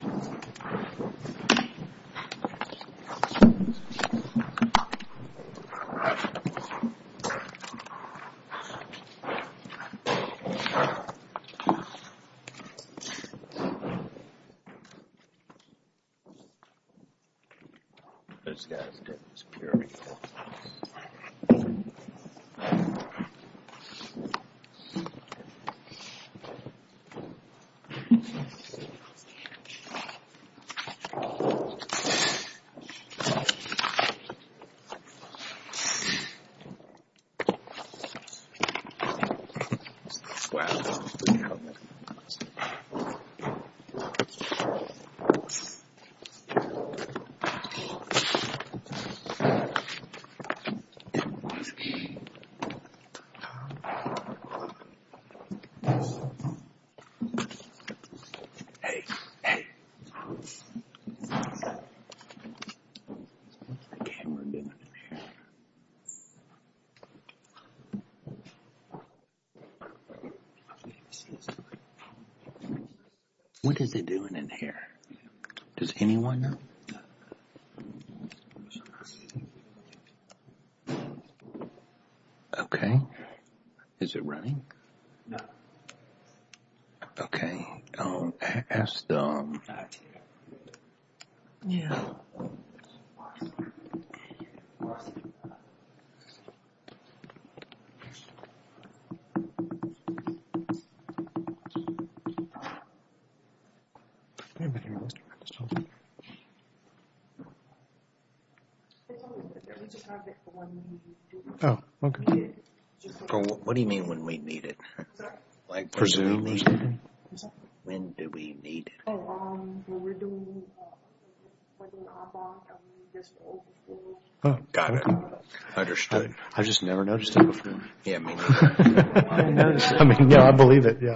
Thomas Switch Holdings, LLC, LLC, LLC, LLC, LLC, LLC, LLC, LLC, LLC, LLC, LLC, LLC, LLC, LLC, I just want to make sure I get. What is it doing in here? Does anyone know? What is it doing in here? Does anyone know? Okay. Is it running? Okay. Is it running? Yeah? A little bit. Oh. Okay. What do you mean, when we need it? When do we need it? No, when we're doing like an op-op, I mean, just open for. Oh, got it. Understood. I've just never noticed it before. Yeah, me neither. I mean, yeah, I believe it, yeah.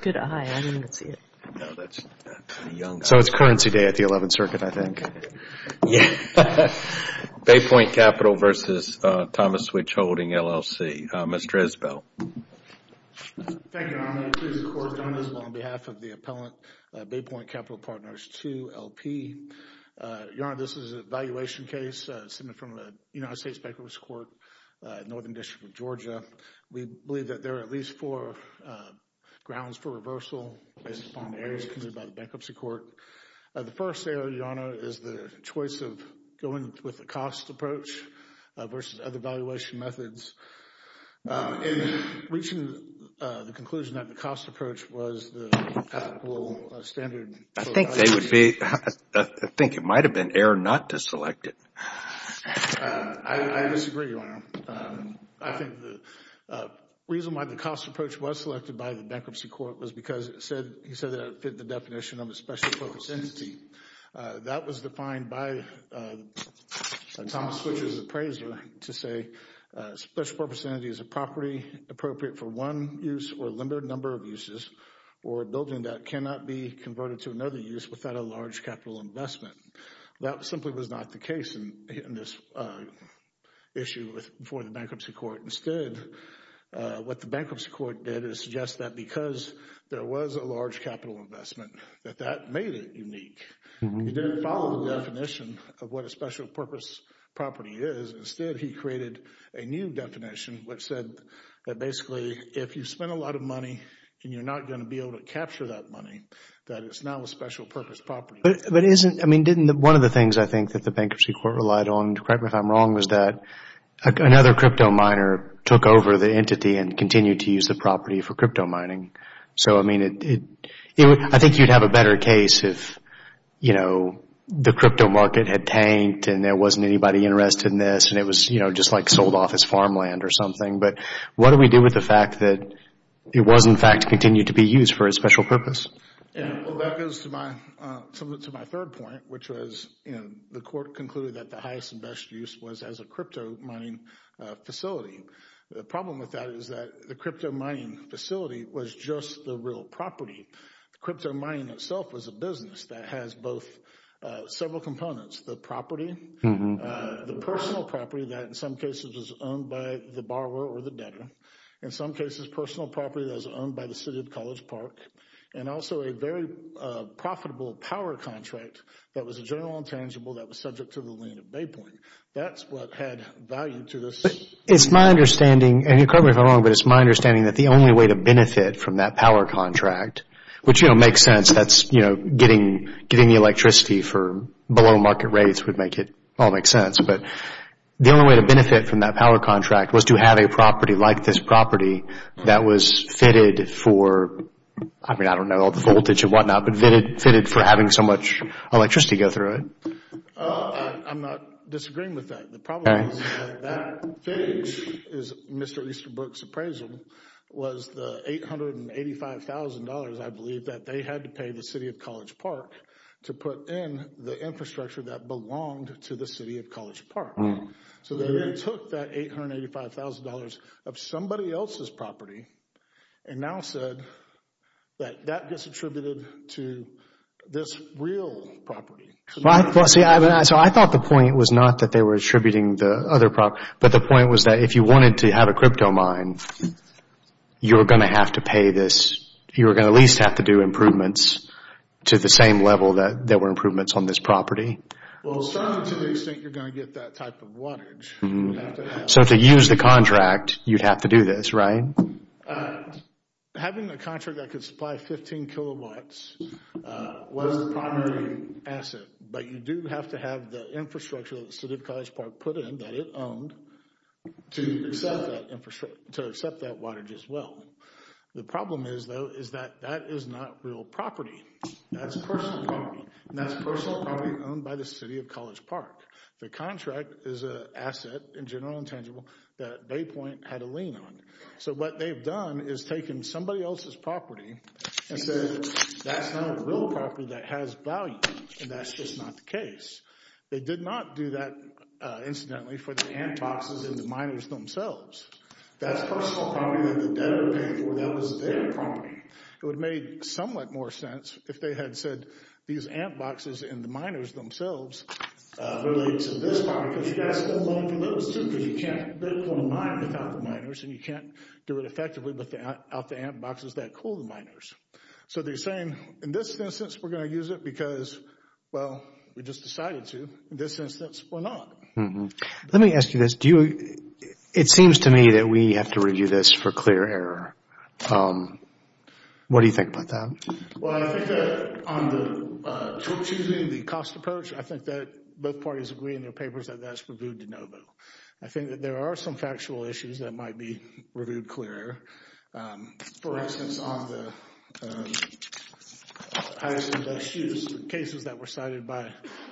Good eye, I didn't even see it. No, that's a young eye. So it's currency day at the 11th Circuit, I think. Baypoint Capital versus Thomas Switch Holding LLC. Mr. Isbell. Thank you, I'm going to introduce, of course, Don Isbell on behalf of the appellant, Baypoint Capital Partners 2LP. Your Honor, this is an evaluation case submitted from the United States Bankruptcy Court, Northern District of Georgia. We believe that there are at least four grounds for reversal based upon the areas considered by the Bankruptcy Court. The first area, Your Honor, is the choice of going with the cost approach versus other valuation methods. In reaching the conclusion that the cost approach was the standard. I think it might have been error not to select it. I disagree, Your Honor. I think the reason why the cost approach was selected by the Bankruptcy Court was because he said that it fit the definition of a special focus entity. That was defined by Thomas Switch's appraiser to say a special purpose entity is a property appropriate for one use or a limited number of uses or a building that cannot be converted to another use without a large capital investment. That simply was not the case in this issue for the Bankruptcy Court. Instead, what the Bankruptcy Court did is suggest that because there was a large capital investment that that made it unique. It didn't follow the definition of what a special purpose property is. Instead, he created a new definition which said that basically, if you spend a lot of money and you're not going to be able to capture that money, that it's not a special purpose property. One of the things I think that the Bankruptcy Court relied on, correct me if I'm wrong, was that another crypto miner took over the entity and continued to use the property for crypto mining. I think you'd have a better case if the crypto market had tanked and there wasn't anybody interested in this and it was just like sold off as farmland or something. What do we do with the fact that it was, in fact, continued to be used for a special purpose? That goes to my third point, which was the court concluded that the highest and best use was as a crypto mining facility. The problem with that is that the crypto mining facility was just the real property. Crypto mining itself was a business that has both several components. The property, the personal property that in some cases was owned by the borrower or the debtor, in some cases personal property that was owned by the City of College Park, and also a very profitable power contract that was a general intangible that was subject to the lien of Baypoint. That's what had value to this. It's my understanding, and correct me if I'm wrong, but it's my understanding that the only way to benefit from that power contract, which makes sense. Getting the electricity for below market rates would make it all make sense, but the only way to benefit from that power contract was to have a property like this property that was fitted for, I don't know, the voltage and whatnot, but fitted for having so much electricity go through it. I'm not disagreeing with that. The problem is that that thing, Mr. Easterbrook's appraisal, was the $885,000, I believe, that they had to pay the City of College Park to put in the infrastructure that belonged to the City of College Park. So they took that $885,000 of somebody else's property and now said that that gets attributed to this real property. I thought the point was not that they were attributing the other property, but the point was that if you wanted to have a crypto mine, you were going to have to pay this. You were going to at least have to do improvements to the same level that there were improvements on this property. Well, certainly to the extent you're going to get that type of wattage. So to use the contract, you'd have to do this, right? Having a contract that could supply 15 kilowatts was the primary asset, but you do have to have the infrastructure that the City of College Park put in, that it owned, to accept that wattage as well. The problem is, though, is that that is not real property. That's personal property, and that's personal property owned by the City of College Park. The contract is an asset, in general intangible, that Baypoint had a lien on. So what they've done is taken somebody else's property and said that's not a real property that has value, and that's just not the case. They did not do that, incidentally, for the ant boxes and the miners themselves. That's personal property that the debtor paid for. That was their property. It would have made somewhat more sense if they had said these ant boxes and the miners themselves were related to this property, because you've got to still loan from those two because you can't Bitcoin mine without the miners, and you can't do it effectively without the ant boxes that cool the miners. So they're saying, in this instance, we're going to use it because, well, we just decided to. In this instance, we're not. Let me ask you this. It seems to me that we have to review this for clear error. What do you think about that? Well, I think that on the tool choosing, the cost approach, I think that both parties agree in their papers that that's reviewed de novo. I think that there are some factual issues that might be reviewed clear error. For instance, on the highest and best use cases that were cited by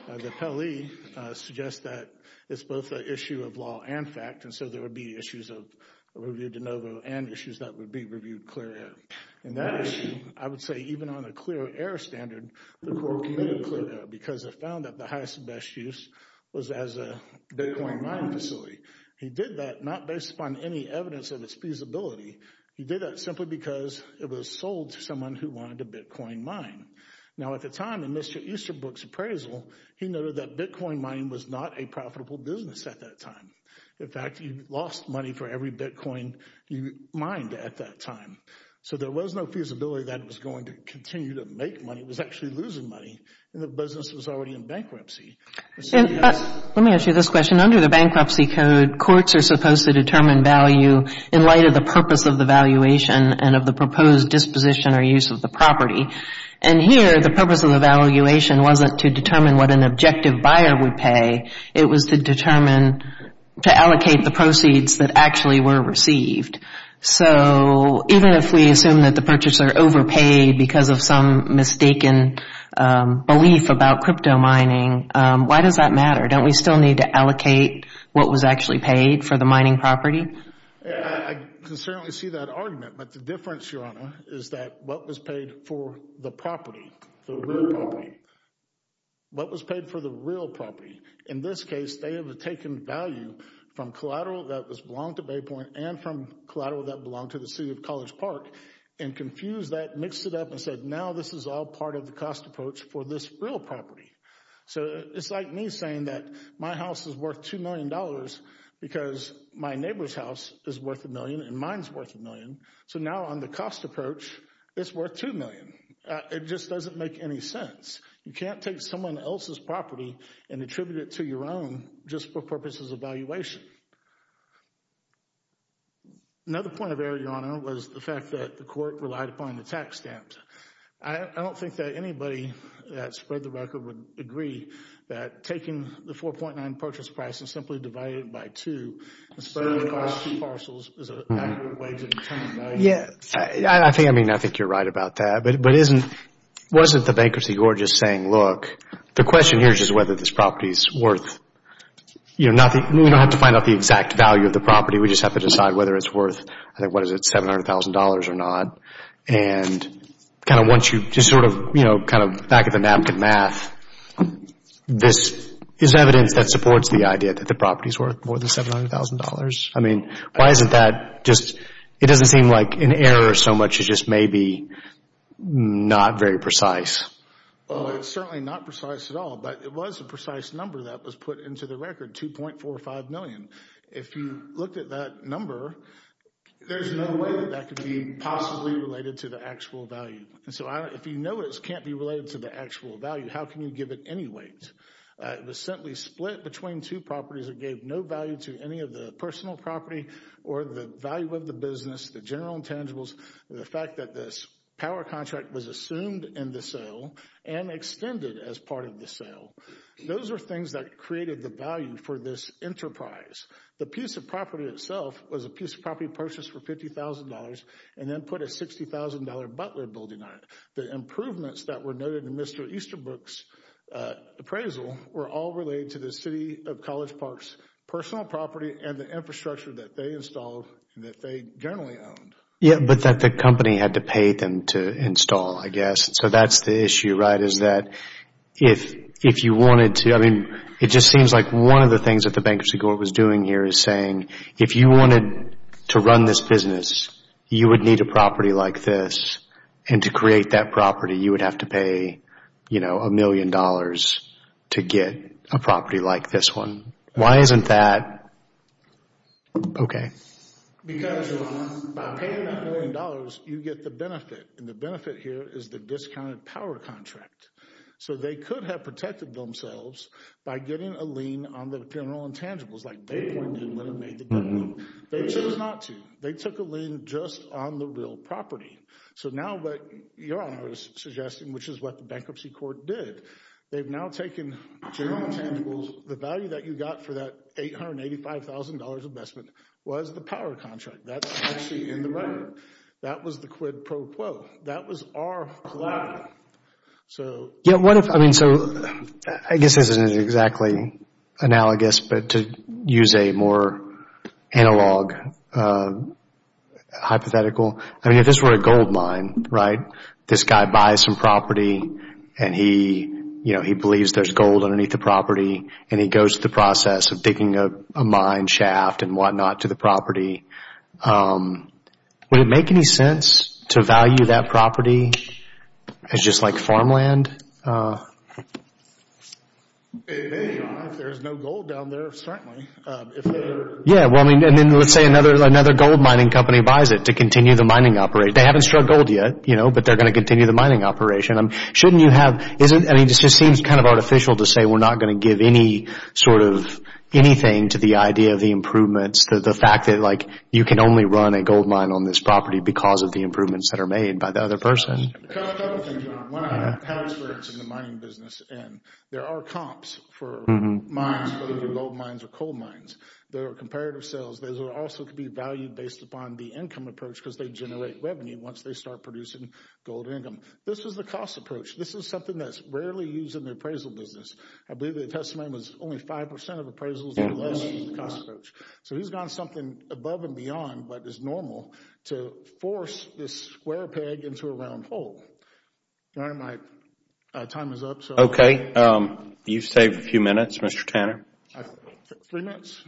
the Pelley suggests that it's both an issue of law and fact, and so there would be issues of review de novo and issues that would be reviewed clear error. And that issue, I would say, even on a clear error standard, the court committed clear error because it found that the highest and best use was as a Bitcoin mining facility. He did that not based upon any evidence of its feasibility. He did that simply because it was sold to someone who wanted a Bitcoin mine. Now, at the time, in Mr. Easterbrook's appraisal, he noted that Bitcoin mining was not a profitable business at that time. In fact, he lost money for every Bitcoin he mined at that time. So there was no feasibility that it was going to continue to make money. It was actually losing money, and the business was already in bankruptcy. Let me ask you this question. Under the Bankruptcy Code, courts are supposed to determine value in light of the purpose of the valuation and of the proposed disposition or use of the property. And here, the purpose of the valuation wasn't to determine what an objective buyer would pay. It was to determine, to allocate the proceeds that actually were received. So even if we assume that the purchaser overpaid because of some mistaken belief about crypto mining, why does that matter? Don't we still need to allocate what was actually paid for the mining property? I can certainly see that argument, but the difference, Your Honor, is that what was paid for the property, the real property. What was paid for the real property? In this case, they have taken value from collateral that belonged to Baypoint and from collateral that belonged to the City of College Park and confused that, mixed it up, and said now this is all part of the cost approach for this real property. So it's like me saying that my house is worth $2 million because my neighbor's house is worth a million and mine's worth a million. So now on the cost approach, it's worth $2 million. It just doesn't make any sense. You can't take someone else's property and attribute it to your own just for purposes of valuation. Another point of error, Your Honor, was the fact that the court relied upon the tax stamps. I don't think that anybody that spread the record would agree that taking the 4.9 purchase price and simply dividing it by two and spreading it across two parcels is an accurate way to determine value. I think you're right about that, but wasn't the bankruptcy court just saying, look, the question here is just whether this property is worth, we don't have to find out the exact value of the property. We just have to decide whether it's worth, I think, what is it, $700,000 or not? And kind of once you just sort of, you know, kind of back at the napkin math, this is evidence that supports the idea that the property's worth more than $700,000. I mean, why isn't that just, it doesn't seem like an error so much as just maybe not very precise. Well, it's certainly not precise at all, but it was a precise number that was put into the record, 2.45 million. If you looked at that number, there's no way that that could be possibly related to the actual value. And so if you know it can't be related to the actual value, how can you give it any weight? It was simply split between two properties that gave no value to any of the personal property or the value of the business, the general intangibles, and the fact that this power contract was assumed in the sale and extended as part of the sale. Those are things that created the value for this enterprise. The piece of property itself was a piece of property purchased for $50,000 and then put a $60,000 Butler building on it. The improvements that were noted in Mr. Easterbrook's appraisal were all related to the City of College Park's personal property and the infrastructure that they installed and that they generally owned. Yeah, but that the company had to pay them to install, I guess. So that's the issue, right, is that if you wanted to, I mean, it just seems like one of the things that the Bankruptcy Court was doing here is saying if you wanted to run this business, you would need a property like this. And to create that property, you would have to pay, you know, a million dollars to get a property like this one. Why isn't that okay? Because by paying that million dollars, you get the benefit. And the benefit here is the discounted power contract. So they could have protected themselves by getting a lien on the general intangibles like they pointed out when they made the deal. They chose not to. They took a lien just on the real property. So now what your Honor is suggesting, which is what the Bankruptcy Court did, they've now taken general intangibles. The value that you got for that $885,000 investment was the power contract. That's actually in the record. That was the quid pro quo. That was our collaborative. Yeah, what if, I mean, so I guess this isn't exactly analogous, but to use a more analog hypothetical. I mean, if this were a gold mine, right, this guy buys some property and he, you know, he believes there's gold underneath the property and he goes through the process of digging a mine shaft and whatnot to the property. Would it make any sense to value that property as just like farmland? If there's no gold down there, certainly. Yeah, well, I mean, and then let's say another gold mining company buys it to continue the mining operation. They haven't struck gold yet, you know, but they're going to continue the mining operation. Shouldn't you have, I mean, this just seems kind of artificial to say we're not going to give any sort of anything to the idea of the improvements, the fact that, like, you can only run a gold mine on this property because of the improvements that are made by the other person. Can I add one thing to that? When I have experience in the mining business, and there are comps for mines, whether they be gold mines or coal mines, there are comparative sales. Those are also to be valued based upon the income approach because they generate revenue once they start producing gold income. This is the cost approach. This is something that's rarely used in the appraisal business. I believe the testimony was only 5% of appraisals So he's gone something above and beyond what is normal to force this square peg into a round hole. All right, my time is up. Okay. You've saved a few minutes, Mr. Tanner. Three minutes?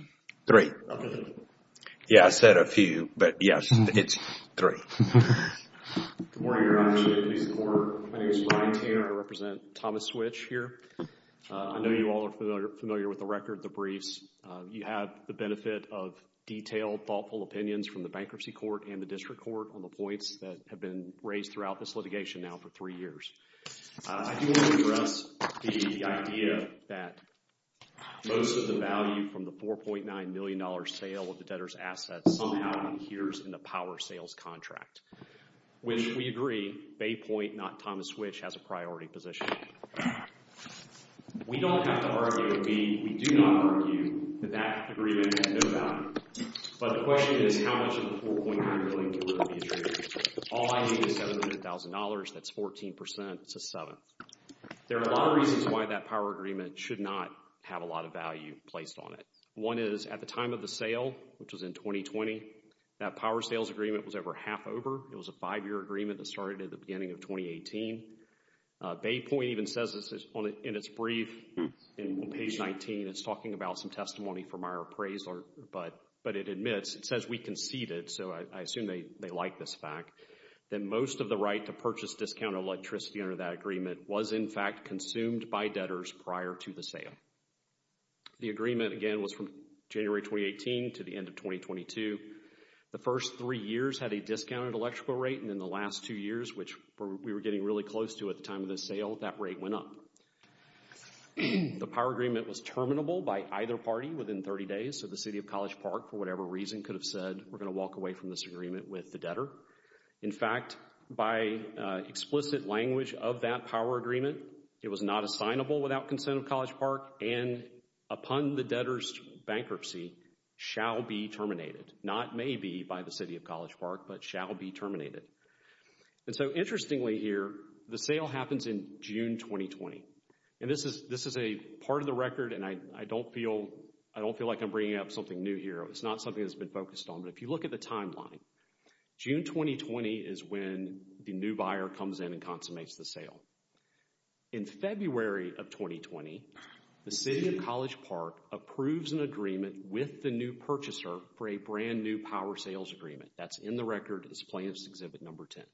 Three. Okay. Yeah, I said a few, but yes, it's three. Good morning. My name is Brian Tanner. I represent Thomas Switch here. I know you all are familiar with the record, the briefs. You have the benefit of detailed, thoughtful opinions from the Bankruptcy Court and the District Court on the points that have been raised throughout this litigation now for three years. I do want to address the idea that most of the value from the $4.9 million sale of the debtor's assets somehow adheres in the power sales contract, which we agree, Bay Point, not Thomas Switch, has a priority position. We don't have to argue with you. We do not argue that that agreement has no value. But the question is how much of the $4.9 million can really be achieved. All I need is $700,000. That's 14%. That's a seventh. There are a lot of reasons why that power agreement should not have a lot of value placed on it. One is at the time of the sale, which was in 2020, that power sales agreement was over half over. It was a five-year agreement that started at the beginning of 2018. Bay Point even says in its brief on page 19, it's talking about some testimony from our appraiser, but it admits, it says we conceded, so I assume they like this fact, that most of the right to purchase discounted electricity under that agreement was in fact consumed by debtors prior to the sale. The agreement, again, was from January 2018 to the end of 2022. The first three years had a discounted electrical rate, and in the last two years, which we were getting really close to at the time of the sale, that rate went up. The power agreement was terminable by either party within 30 days, so the City of College Park, for whatever reason, could have said, we're going to walk away from this agreement with the debtor. In fact, by explicit language of that power agreement, it was not assignable without consent of College Park, and upon the debtor's bankruptcy, shall be terminated. Not may be by the City of College Park, but shall be terminated. And so interestingly here, the sale happens in June 2020, and this is a part of the record, and I don't feel like I'm bringing up something new here. It's not something that's been focused on, but if you look at the timeline, June 2020 is when the new buyer comes in and consummates the sale. In February of 2020, the City of College Park approves an agreement with the new purchaser for a brand new power sales agreement. That's in the record as Planned Parenthood Exhibit No. 10.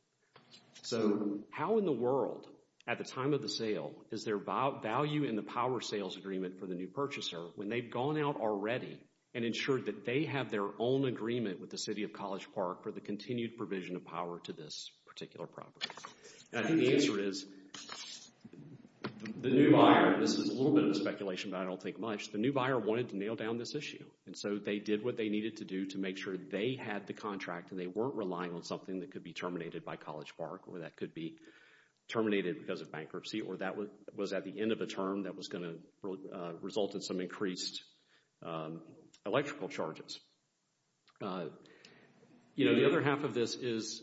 So how in the world, at the time of the sale, is there value in the power sales agreement for the new purchaser when they've gone out already and ensured that they have their own agreement with the City of College Park for the continued provision of power to this particular property? I think the answer is, the new buyer, this is a little bit of a speculation, but I don't think much, the new buyer wanted to nail down this issue. And so they did what they needed to do to make sure they had the contract and they weren't relying on something that could be terminated by College Park or that could be terminated because of bankruptcy or that was at the end of a term that was going to result in some increased electrical charges. The other half of this is,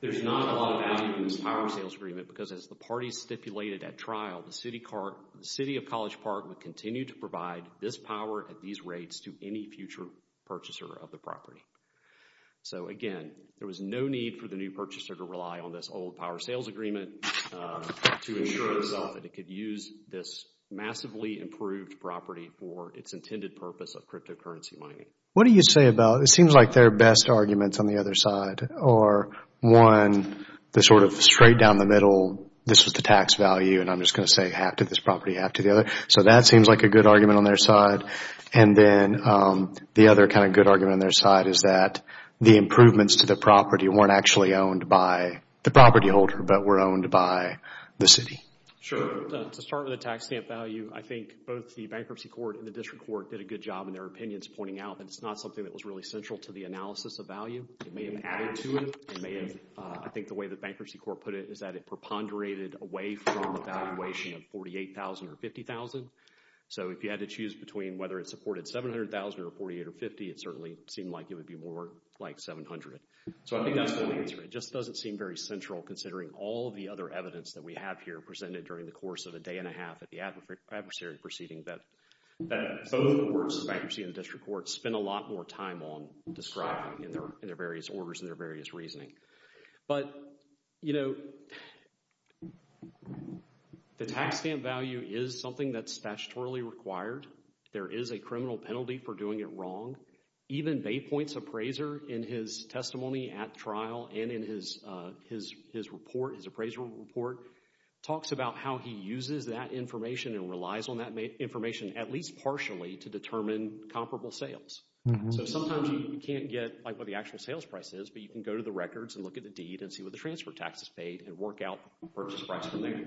there's not a lot of value in this power sales agreement because as the parties stipulated at trial, the City of College Park would continue to provide this power at these rates to any future purchaser of the property. So again, there was no need for the new purchaser to rely on this old power sales agreement to ensure itself that it could use this massively improved property for its intended purpose of cryptocurrency mining. What do you say about, it seems like their best arguments on the other side are, one, the sort of straight down the middle, this was the tax value, and I'm just going to say half to this property, half to the other. So that seems like a good argument on their side. And then the other kind of good argument on their side is that the improvements to the property weren't actually owned by the property holder but were owned by the City. Sure. To start with the tax stamp value, I think both the Bankruptcy Court and the District Court did a good job in their opinions pointing out that it's not something that was really central to the analysis of value. It may have added to it. I think the way the Bankruptcy Court put it is that it preponderated away from the valuation of $48,000 or $50,000. So if you had to choose between whether it supported $700,000 or $48,000 or $50,000, it certainly seemed like it would be more like $700,000. So I think that's the answer. It just doesn't seem very central considering all of the other evidence that we have here presented during the course of a day and a half at the adversary proceeding that both the courts, the Bankruptcy and the District Courts, spent a lot more time on describing in their various orders and their various reasoning. But, you know, the tax stamp value is something that's statutorily required. There is a criminal penalty for doing it wrong. Even Baypoint's appraiser in his testimony at trial and in his report, his appraisal report, talks about how he uses that information and relies on that information at least partially to determine comparable sales. So sometimes you can't get what the actual sales price is, but you can go to the records and look at the deed and see what the transfer tax is paid and work out the purchase price from there.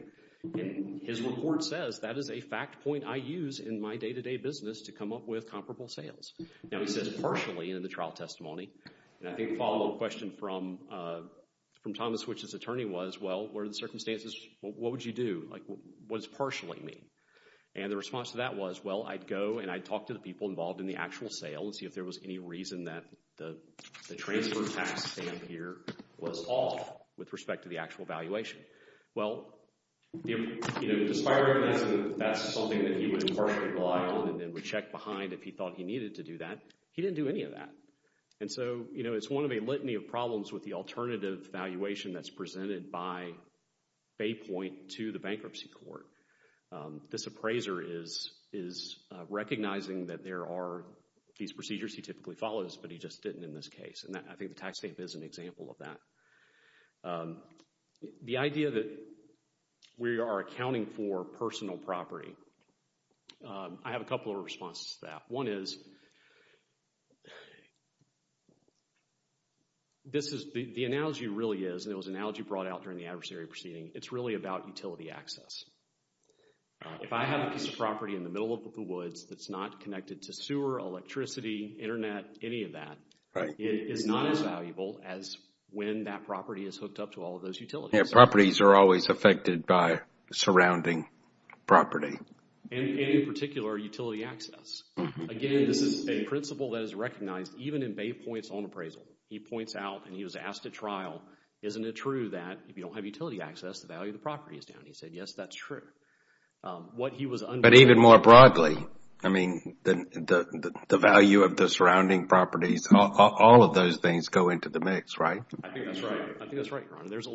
His report says that is a fact point I use in my day-to-day business to come up with comparable sales. Now he says partially in the trial testimony, and I think the follow-up question from Thomas, which is attorney, was, well, what are the circumstances? What would you do? What does partially mean? And the response to that was, well, I'd go and I'd talk to the people involved in the actual sale and see if there was any reason that the transfer tax stamp here was off with respect to the actual valuation. Well, you know, despite recognizing that that's something that he would partially rely on and then would check behind if he thought he needed to do that, he didn't do any of that. And so, you know, it's one of a litany of problems with the alternative valuation that's presented by Bay Point to the bankruptcy court. This appraiser is recognizing that there are these procedures he typically follows, but he just didn't in this case, and I think the tax stamp is an example of that. The idea that we are accounting for personal property. I have a couple of responses to that. One is, the analogy really is, and it was an analogy brought out during the adversary proceeding, it's really about utility access. If I have a piece of property in the middle of the woods that's not connected to sewer, electricity, internet, any of that, it is not as valuable as when that property is hooked up to all of those utilities. Yeah, properties are always affected by surrounding property. And in particular, utility access. Again, this is a principle that is recognized even in Bay Point's own appraisal. He points out, and he was asked at trial, isn't it true that if you don't have utility access, the value of the property is down? He said, yes, that's true. But even more broadly, I mean, the value of the surrounding properties, all of those things go into the mix, right? I think that's right. I think that's right, Your Honor. There's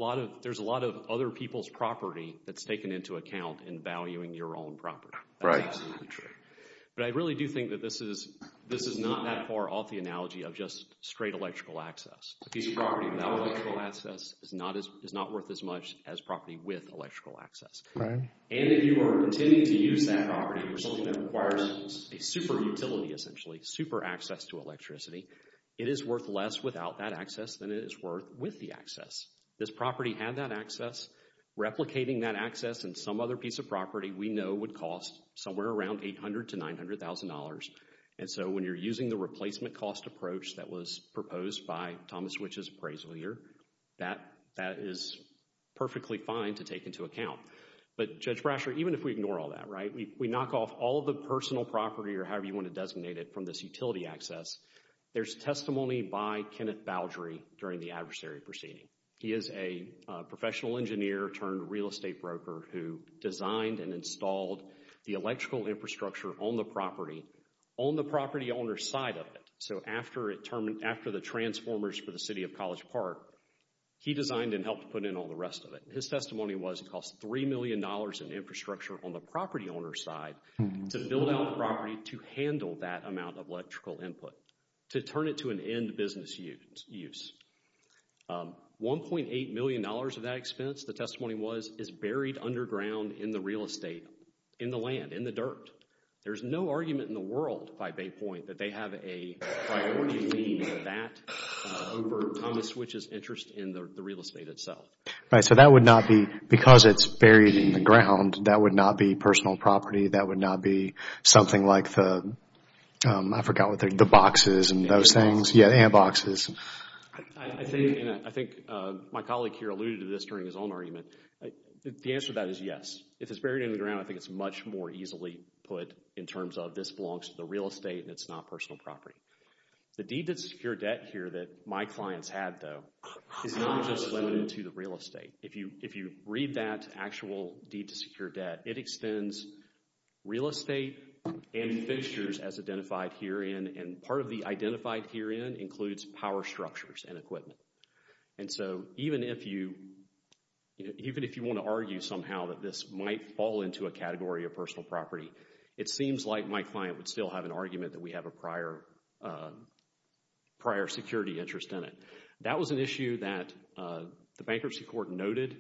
a lot of other people's property that's taken into account in valuing your own property. That's absolutely true. But I really do think that this is not that far off the analogy of just straight electrical access. A piece of property without electrical access is not worth as much as property with electrical access. And if you are intending to use that property for something that requires a super utility, essentially, super access to electricity, it is worth less without that access than it is worth with the access. This property had that access. Replicating that access in some other piece of property we know would cost somewhere around $800,000 to $900,000. And so when you're using the replacement cost approach that was proposed by Thomas Wich's appraisal here, that is perfectly fine to take into account. But Judge Brasher, even if we ignore all that, right, if we knock off all of the personal property or however you want to designate it from this utility access, there's testimony by Kenneth Boudry during the adversary proceeding. He is a professional engineer turned real estate broker who designed and installed the electrical infrastructure on the property, on the property owner's side of it. So after the transformers for the City of College Park, he designed and helped put in all the rest of it. His testimony was it cost $3 million in infrastructure on the property owner's side to build out the property to handle that amount of electrical input, to turn it to an end business use. $1.8 million of that expense, the testimony was, is buried underground in the real estate, in the land, in the dirt. There's no argument in the world by Bay Point that they have a priority lead in that over Thomas Wich's interest in the real estate itself. Right, so that would not be, because it's buried in the ground, that would not be personal property, that would not be something like the, I forgot what they're, the boxes and those things. Yeah, the hand boxes. I think my colleague here alluded to this during his own argument. The answer to that is yes. If it's buried in the ground, I think it's much more easily put in terms of this belongs to the real estate and it's not personal property. The deed to secure debt here that my clients had, though, is not just limited to the real estate. If you read that actual deed to secure debt, it extends real estate and fixtures as identified herein, and part of the identified herein includes power structures and equipment. And so even if you, even if you want to argue somehow that this might fall into a category of personal property, it seems like my client would still have an argument that we have a prior, prior security interest in it. That was an issue that the Bankruptcy Court noted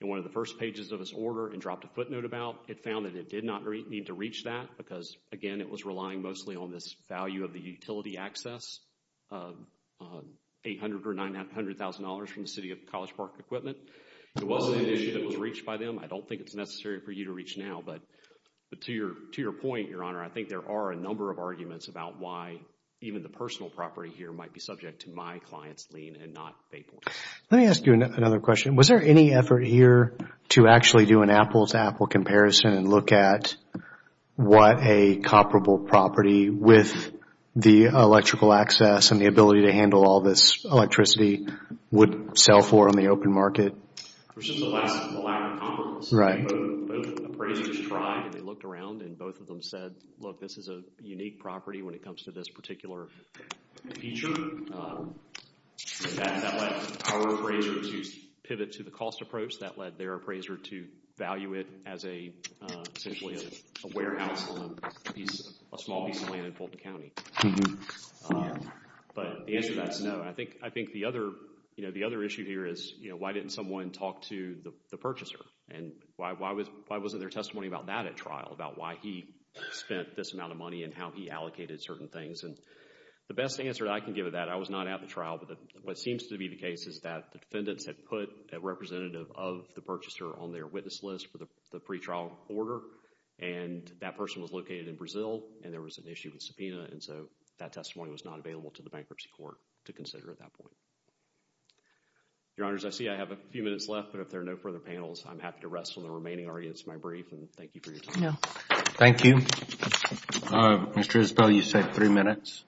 in one of the first pages of its order and dropped a footnote about. It found that it did not need to reach that because, again, it was relying mostly on this value of the utility access, $800,000 or $900,000 from the City of College Park Equipment. It was an issue that was reached by them. I don't think it's necessary for you to reach now, but to your point, Your Honor, I think there are a number of arguments about why even the personal property here might be subject to my client's lien and not Bayport. Let me ask you another question. Was there any effort here to actually do an apple-to-apple comparison and look at what a comparable property with the electrical access and the ability to handle all this electricity would sell for on the open market? It was just a lack of comparison. Both appraisers tried and they looked around and both of them said, look, this is a unique property when it comes to this particular feature. That led our appraiser to pivot to the cost approach. That led their appraiser to value it as essentially a warehouse on a small piece of land in Fulton County. But the answer to that is no. I think the other issue here is why didn't someone talk to the purchaser and why wasn't there testimony about that at trial, about why he spent this amount of money and how he allocated certain things. The best answer I can give to that, I was not at the trial, but what seems to be the case is that the defendants had put a representative of the purchaser on their witness list for the pretrial order and that person was located in Brazil and there was an issue with subpoena and so that testimony was not available to the bankruptcy court to consider at that point. Your Honors, I see I have a few minutes left, but if there are no further panels, I'm happy to rest on the remaining arguments of my brief and thank you for your time. Thank you. Mr. Isbell, you said three minutes.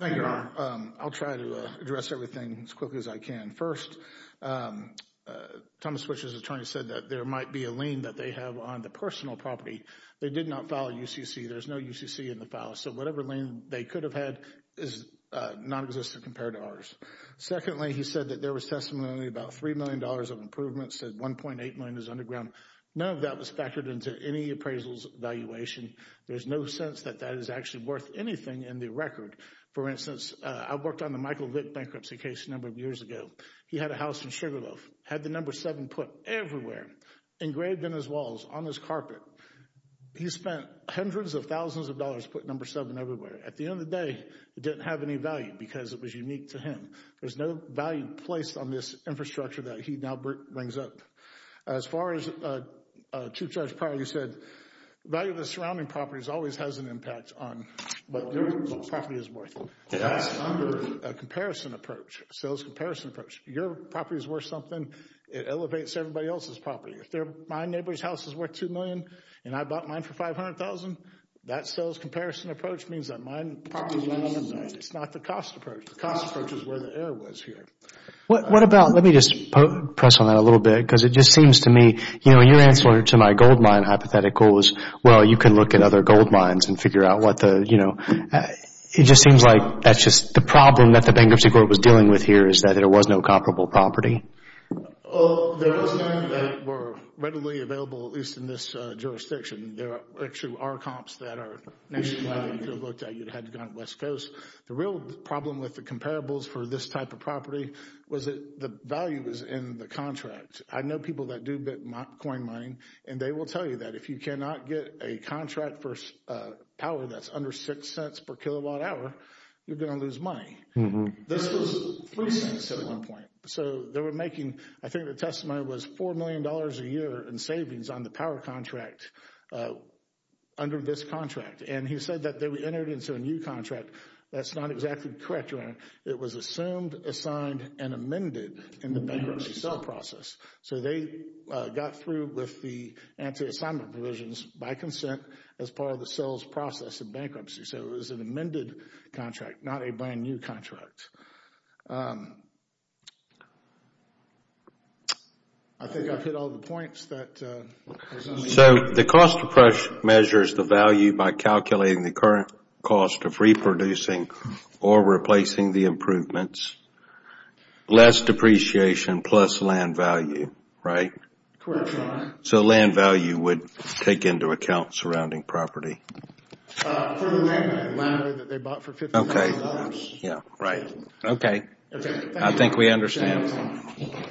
Thank you, Your Honor. I'll try to address everything as quickly as I can. First, Thomas Whitcher's attorney said that there might be a lien that they have on the personal property. They did not file a UCC. There's no UCC in the file, so whatever lien they could have had is nonexistent compared to ours. Secondly, he said that there was testimony about $3 million of improvements, said $1.8 million is underground. None of that was factored into any appraisals valuation. There's no sense that that is actually worth anything in the record. For instance, I've worked on the Michael Vick bankruptcy case a number of years ago. He had a house in Sugarloaf, had the number 7 put everywhere, engraved in his walls, on his carpet. He spent hundreds of thousands of dollars putting number 7 everywhere. At the end of the day, it didn't have any value because it was unique to him. There's no value placed on this infrastructure that he now brings up. As far as Chief Judge Pirley said, the value of the surrounding properties always has an impact on what your property is worth. That's under a comparison approach, a sales comparison approach. If your property is worth something, it elevates everybody else's property. If my neighbor's house is worth $2 million and I bought mine for $500,000, that sales comparison approach means that my property is worth $1 million. It's not the cost approach. The cost approach is where the error was here. Let me just press on that a little bit because it just seems to me, your answer to my gold mine hypothetical was, well, you can look at other gold mines and figure out what the, you know. It just seems like that's just the problem that the bankruptcy court was dealing with here is that there was no comparable property. There was none that were readily available, at least in this jurisdiction. There actually are comps that are nationwide. If you looked at it, you'd have to go on the West Coast. The real problem with the comparables for this type of property was that the value was in the contract. I know people that do bitcoin mining, and they will tell you that if you cannot get a contract for power that's under $0.06 per kilowatt hour, you're going to lose money. This was $0.03 at one point. So they were making, I think the testimony was $4 million a year in savings on the power contract under this contract. And he said that they entered into a new contract. That's not exactly correct. It was assumed, assigned, and amended in the bankruptcy sale process. So they got through with the anti-assignment provisions by consent as part of the sales process in bankruptcy. So it was an amended contract, not a brand new contract. I think I've hit all the points. So the cost approach measures the value by calculating the current cost of reproducing or replacing the improvements. Less depreciation plus land value, right? Correct, Your Honor. So land value would take into account surrounding property. For the land that they bought for $50,000. Yeah, right. Okay. I think we understand.